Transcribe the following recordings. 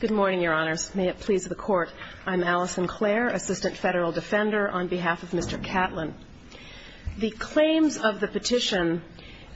Good morning, Your Honors. May it please the Court, I'm Alison Clare, Assistant Federal Defender, on behalf of Mr. Catlin. The claims of the petition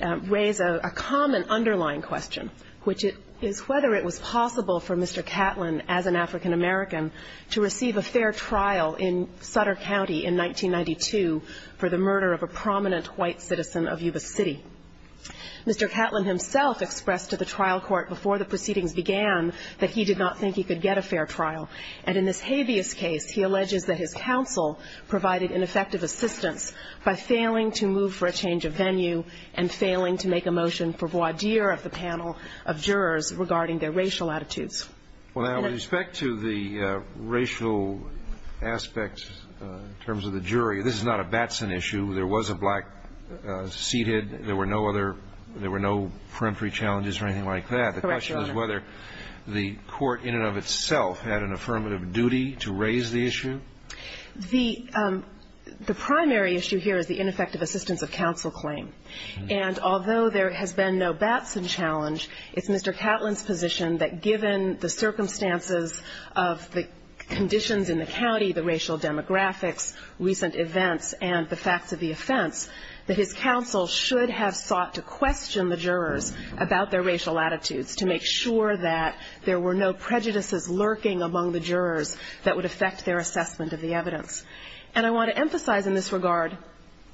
raise a common underlying question, which is whether it was possible for Mr. Catlin, as an African American, to receive a fair trial in Sutter County in 1992 for the murder of a prominent white citizen of Yuba City. Mr. Catlin himself expressed to the trial court before the proceedings began that he did not think he could get a fair trial. And in this Habeas case, he alleges that his counsel provided ineffective assistance by failing to move for a change of venue and failing to make a motion for voir dire of the panel of jurors regarding their racial attitudes. Well, now, with respect to the racial aspects in terms of the jury, this is not a Batson issue. There was a black seated. There were no other – there were no peremptory challenges or anything like that. Correct, Your Honor. The question is whether the court in and of itself had an affirmative duty to raise the issue. The primary issue here is the ineffective assistance of counsel claim. And although there has been no Batson challenge, it's Mr. Catlin's position that given the circumstances of the conditions in the county, the racial demographics, recent events, and the facts of the offense, that his counsel should have sought to question the jurors about their racial attitudes to make sure that there were no prejudices lurking among the jurors that would affect their assessment of the evidence. And I want to emphasize in this regard,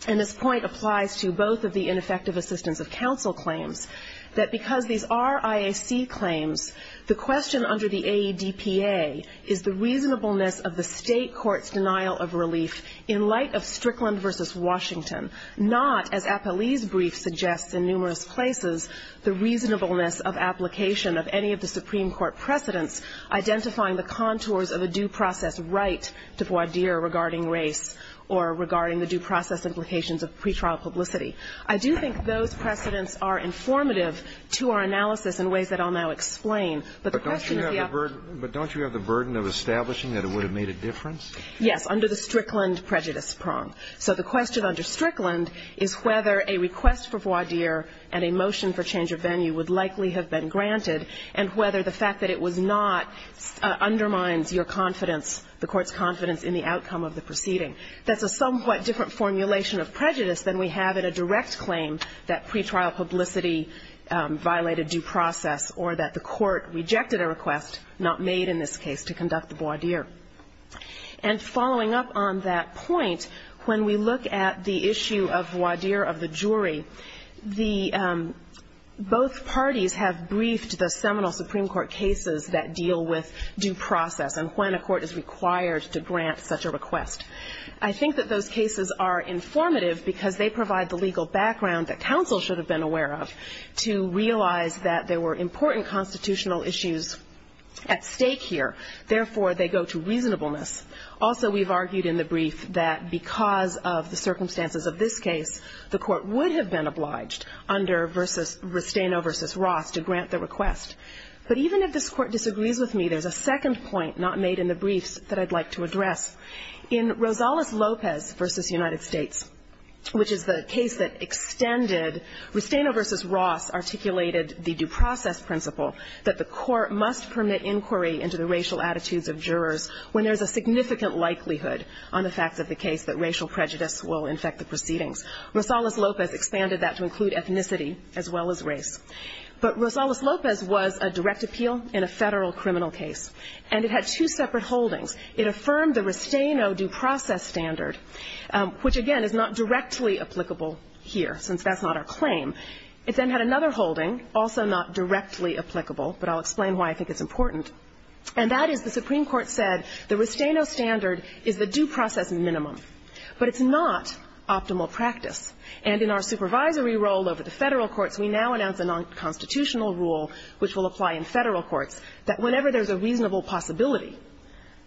and this point applies to both of the ineffective assistance of counsel claims, that because these are IAC claims, the question under the AEDPA is the reasonableness of the state court's denial of relief in light of Strickland v. Washington, not, as Apolli's brief suggests in numerous places, the reasonableness of application of any of the Supreme Court precedents identifying the contours of a due process right to voir dire regarding race or regarding the due process implications of pretrial publicity. I do think those precedents are informative to our analysis in ways that I'll now explain, but the question is the outcome. But don't you have the burden of establishing that it would have made a difference? Yes, under the Strickland prejudice prong. So the question under Strickland is whether a request for voir dire and a motion for change of venue would likely have been granted, and whether the fact that it was not undermines your confidence, the Court's confidence in the outcome of the proceeding. That's a somewhat different formulation of prejudice than we have in a direct claim that pretrial publicity violated due process or that the Court rejected a request, not made in this case, to conduct the voir dire. And following up on that point, when we look at the issue of voir dire of the jury, both parties have briefed the seminal Supreme Court cases that deal with due process and when a court is required to grant such a request. I think that those cases are informative because they provide the legal background that counsel should have been aware of to realize that there were important constitutional issues at stake here. Therefore, they go to reasonableness. Also, we've argued in the brief that because of the circumstances of this case, the Court would have been obliged under Restaino v. Ross to grant the request. But even if this Court disagrees with me, there's a second point not made in the briefs that I'd like to address. In Rosales-Lopez v. United States, which is the case that extended Restaino v. Ross articulated the due process principle that the Court must permit inquiry into the racial attitudes of jurors when there's a significant likelihood on the facts of the case that racial prejudice will infect the proceedings. Rosales-Lopez expanded that to include ethnicity as well as race. But Rosales-Lopez was a direct appeal in a Federal criminal case. And it had two separate holdings. It affirmed the Restaino due process standard, which, again, is not directly applicable here since that's not our claim. It then had another holding, also not directly applicable, but I'll explain why I think it's important. And that is the Supreme Court said the Restaino standard is the due process minimum, but it's not optimal practice. And in our supervisory role over the Federal courts, we now announce a nonconstitutional rule which will apply in Federal courts that whenever there's a reasonable possibility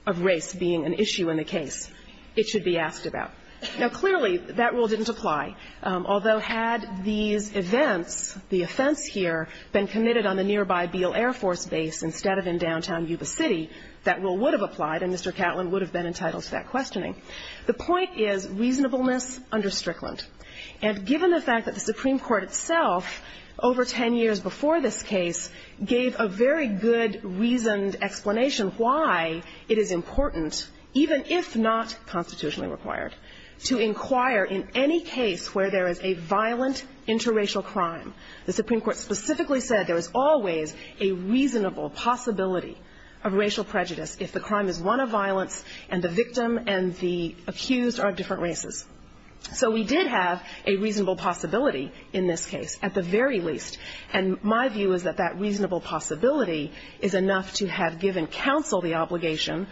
of race being an issue in the case, it should be asked about. Now, clearly, that rule didn't apply. Although had these events, the offense here, been committed on the nearby Beale Air Force Base instead of in downtown Yuba City, that rule would have applied and Mr. Catlin would have been entitled to that questioning. The point is reasonableness under Strickland. And given the fact that the Supreme Court itself over ten years before this case gave a very good reasoned explanation why it is important, even if not constitutionally required, to inquire in any case where there is a violent interracial crime, the Supreme Court specifically said there is always a reasonable possibility of racial prejudice if the crime is one of violence and the victim and the accused are of different races. So we did have a reasonable possibility in this case, at the very least. And my view is that that reasonable possibility is enough to have given counsel the obligation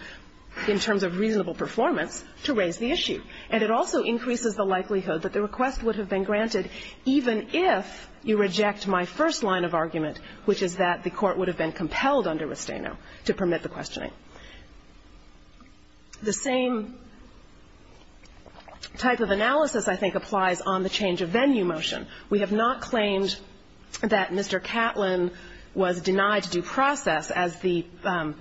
in terms of reasonable performance to raise the issue. And it also increases the likelihood that the request would have been granted even if you reject my first line of argument, which is that the Court would have been compelled under Restaino to permit the questioning. The same type of analysis I think applies on the change of venue motion. We have not claimed that Mr. Catlin was denied due process, as the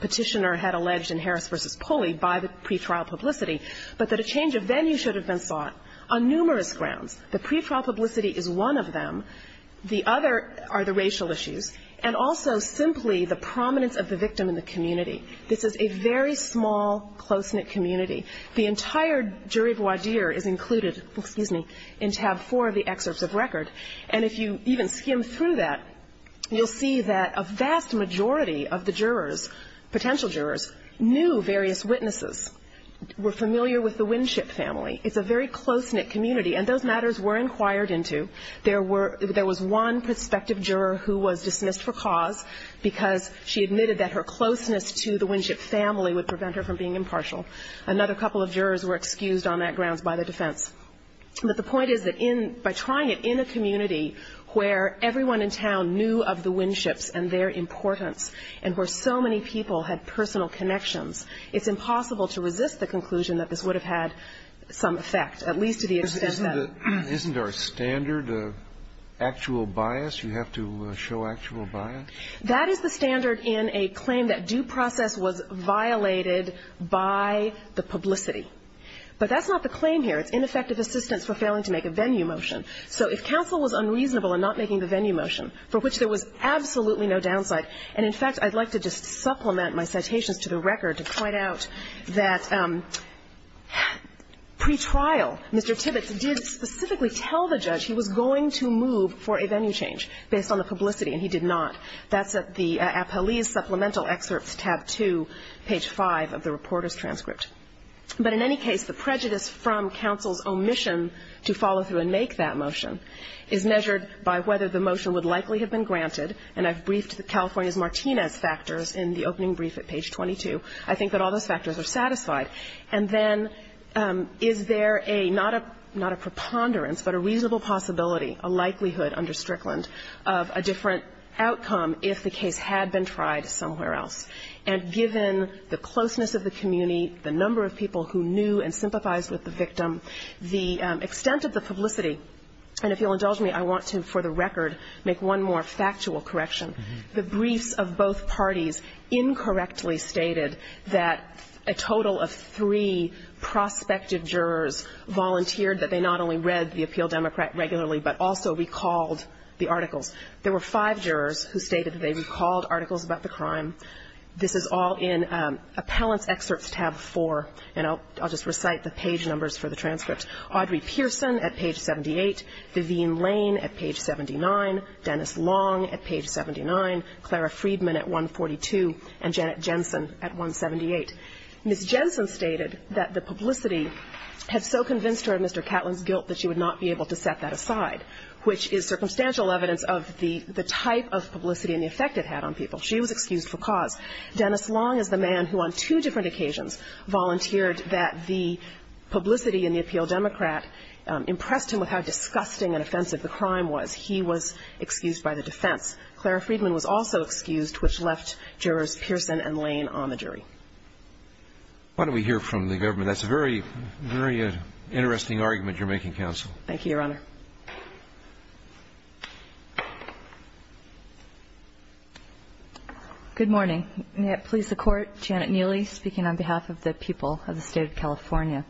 Petitioner had alleged in Harris v. Pulley, by the pretrial publicity, but that a change of venue should have been sought on numerous grounds. The pretrial publicity is one of them. The other are the racial issues. And also simply the prominence of the victim in the community. This is a very small, close-knit community. The entire jury voir dire is included in tab 4 of the excerpts of record. And if you even skim through that, you'll see that a vast majority of the jurors, potential jurors, knew various witnesses, were familiar with the Winship family. It's a very close-knit community, and those matters were inquired into. There were – there was one prospective juror who was dismissed for cause because she admitted that her closeness to the Winship family would prevent her from being impartial. Another couple of jurors were excused on that grounds by the defense. But the point is that in – by trying it in a community where everyone in town knew of the Winships and their importance, and where so many people had personal connections, it's impossible to resist the conclusion that this would have had some effect, at least to the extent that – The standard of actual bias? You have to show actual bias? That is the standard in a claim that due process was violated by the publicity. But that's not the claim here. It's ineffective assistance for failing to make a venue motion. So if counsel was unreasonable in not making the venue motion, for which there was absolutely no downside – and in fact, I'd like to just supplement my citations to the record to point out that pretrial, Mr. Tibbetts did specifically tell the judge he was going to move for a venue change based on the publicity, and he did not. That's at the Appellee's Supplemental Excerpts, tab 2, page 5 of the reporter's transcript. But in any case, the prejudice from counsel's omission to follow through and make that motion is measured by whether the motion would likely have been granted. And I've briefed California's Martinez factors in the opening brief at page 22. I think that all those factors are satisfied. And then is there a – not a preponderance, but a reasonable possibility, a likelihood under Strickland, of a different outcome if the case had been tried somewhere else? And given the closeness of the community, the number of people who knew and sympathized with the victim, the extent of the publicity – and if you'll indulge me, I want to, for the record, make one more factual correction. The briefs of both parties incorrectly stated that a total of three prospective jurors volunteered, that they not only read the Appeal Democrat regularly, but also recalled the articles. There were five jurors who stated that they recalled articles about the crime. This is all in Appellant's Excerpts, tab 4. Ms. Jensen stated that the publicity had so convinced her of Mr. Catlin's guilt that she would not be able to set that aside, which is circumstantial evidence of the type of publicity and the effect it had on people. She was excused for cause. Dennis Long is the man who, on two different occasions, volunteered that the publicity impressed him with how disgusting and offensive the crime was. He was excused by the defense. Clara Friedman was also excused, which left jurors Pearson and Lane on the jury. Why don't we hear from the government? That's a very, very interesting argument you're making, counsel. Thank you, Your Honor. Good morning. May it please the Court. Janet Neely speaking on behalf of the people of the State of California.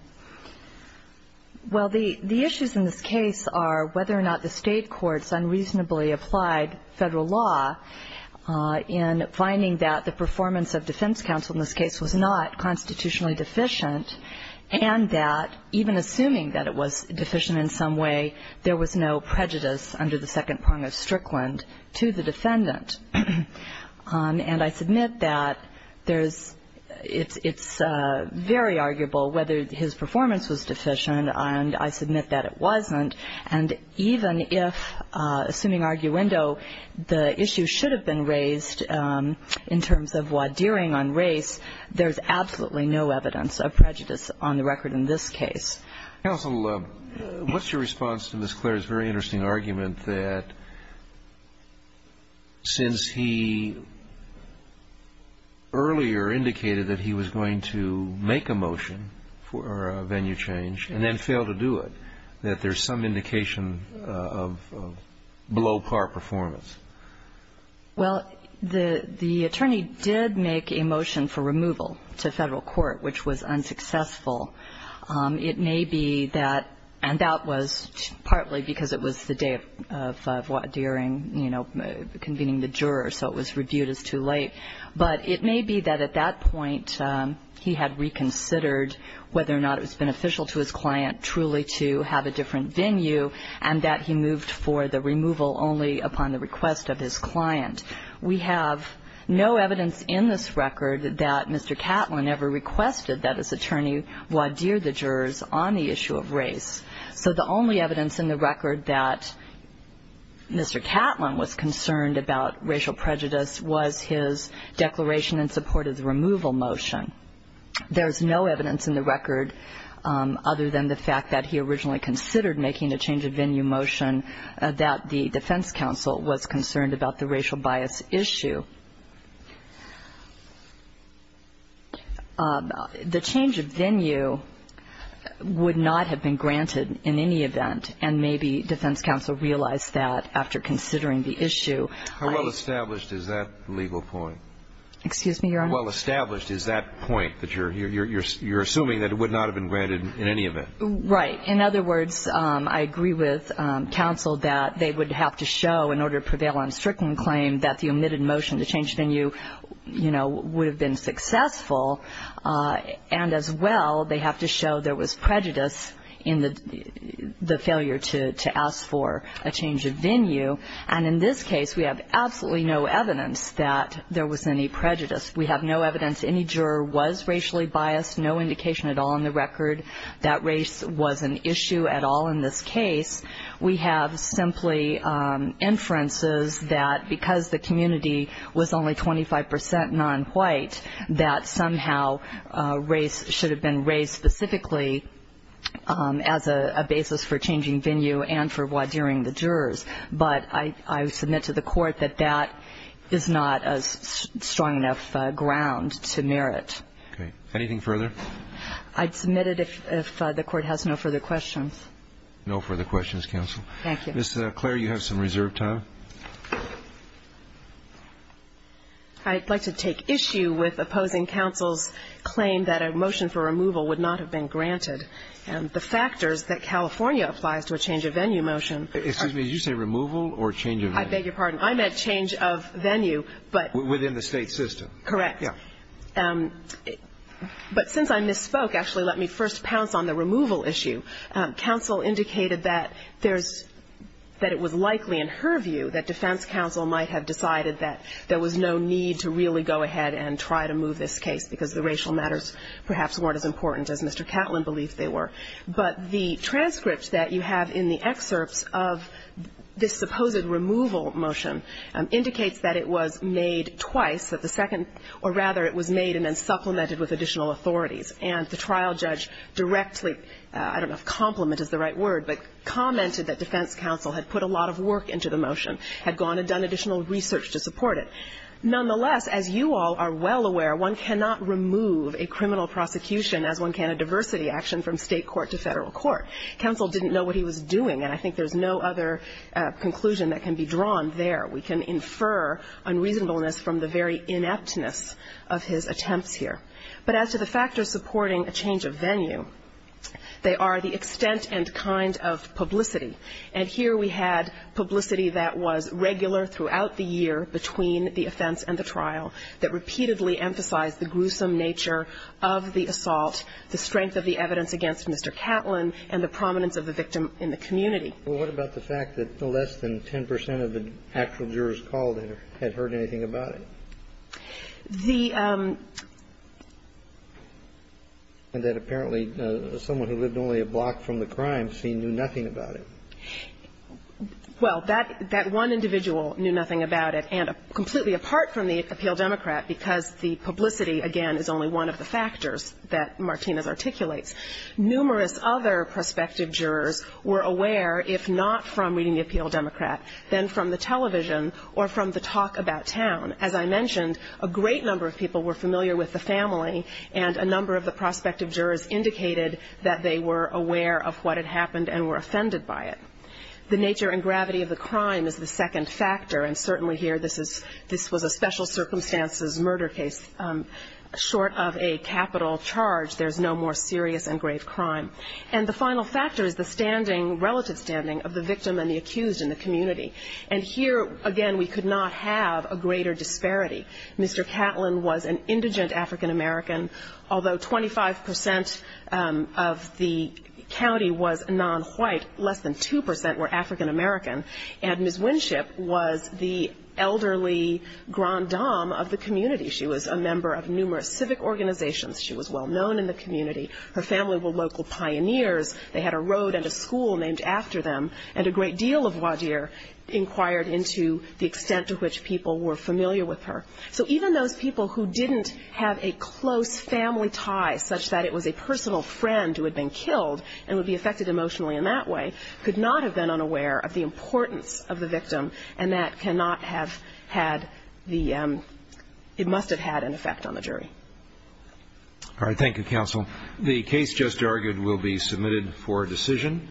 Well, the issues in this case are whether or not the State courts unreasonably applied Federal law in finding that the performance of defense counsel in this case was not constitutionally deficient and that, even assuming that it was deficient in some way, there was no prejudice under the second prong of Strickland to the defendant. And I submit that it's very arguable whether his performance was deficient, and I submit that it wasn't. And even if, assuming arguendo, the issue should have been raised in terms of what dearing on race, there's absolutely no evidence of prejudice on the record in this case. Counsel, what's your response to Ms. Clare's very interesting argument that since he earlier indicated that he was going to make a motion for a venue change and then fail to do it, that there's some indication of below-par performance? Well, the attorney did make a motion for removal to Federal court, which was unsuccessful. It may be that, and that was partly because it was the day of dearing, you know, convening the juror, so it was reviewed as too late. But it may be that at that point he had reconsidered whether or not it was beneficial to his client truly to have a different venue, and that he moved for the removal only upon the request of his client. We have no evidence in this record that Mr. Catlin ever requested that his attorney voir dire the jurors on the issue of race. So the only evidence in the record that Mr. Catlin was concerned about racial prejudice was his declaration in support of the removal motion. There's no evidence in the record other than the fact that he originally considered making a change of venue motion that the defense counsel was concerned about the racial bias issue. The change of venue would not have been granted in any event, and maybe defense counsel realized that after considering the issue. How well established is that legal point? Excuse me, Your Honor? How well established is that point, that you're assuming that it would not have been granted in any event? Right. In other words, I agree with counsel that they would have to show, in order to prevail on a stricken claim, that the omitted motion, the change of venue, you know, would have been successful, and as well they have to show there was prejudice in the failure to ask for a change of venue. There's no evidence any juror was racially biased, no indication at all in the record that race was an issue at all in this case. We have simply inferences that because the community was only 25 percent nonwhite, that somehow race should have been raised specifically as a basis for changing venue and for what during the jurors, but I submit to the court that that is not a strong enough ground to merit. Okay. Anything further? I'd submit it if the court has no further questions. No further questions, counsel. Thank you. Ms. Clare, you have some reserved time. I'd like to take issue with opposing counsel's claim that a motion for removal would not have been granted, and the factors that were involved in that motion. But since I misspoke, actually let me first pounce on the removal issue. Counsel indicated that there's, that it was likely, in her view, that defense counsel might have decided that there was no need to really go ahead and try to move this case, because the racial matters perhaps weren't as important as Mr. Catlin believed they were. But the transcript that you have in the excerpts of this supposed removal motion indicates that it was made twice, that the second time, rather, it was made and then supplemented with additional authorities. And the trial judge directly, I don't know if compliment is the right word, but commented that defense counsel had put a lot of work into the motion, had gone and done additional research to support it. Nonetheless, as you all are well aware, one cannot remove a criminal prosecution as one can a diversity action from State court to Federal court. Counsel didn't know what he was doing, and I think there's no other conclusion that can be drawn there. We can infer unreasonableness from the very ineptness of his attempts here. But as to the factors supporting a change of venue, they are the extent and kind of publicity. And here we had publicity that was regular throughout the year between the offense and the trial, that repeatedly emphasized the gruesome nature of the assault, the strength of the evidence against Mr. Catlin, and the fact that there were witnesses, and the prominence of the victim in the community. Well, what about the fact that no less than 10 percent of the actual jurors called in had heard anything about it? And that apparently someone who lived only a block from the crime scene knew nothing about it. Well, that one individual knew nothing about it, and completely apart from the appeal Democrat, because the publicity, again, is only one of the factors that Martinez articulates. Numerous other prospective jurors were aware, if not from reading the appeal Democrat, then from the television or from the talk about town. As I mentioned, a great number of people were familiar with the family, and a number of the prospective jurors indicated that they were aware of what had happened and were offended by it. The nature and gravity of the crime is the second factor, and certainly here this was a special circumstances murder case. Short of a capital charge, there's no more serious and grave crime. And the final factor is the standing, relative standing, of the victim and the accused in the community. And here, again, we could not have a greater disparity. Mr. Catlin was an indigent African-American, although 25 percent of the county was non-white, less than 2 percent were African-American. And Ms. Winship was the elderly grand dame of the community. She was a member of numerous civic organizations. She was well-known in the community. Her family were local pioneers. They had a road and a school named after them. And a great deal of Wadier inquired into the extent to which people were familiar with her. So even those people who didn't have a close family tie, such that it was a personal friend who had been killed and would be affected emotionally in that way, could not have been unaware of the importance of the victim, and that cannot have had the ‑‑ it must have had an effect on the jury. Thank you, counsel.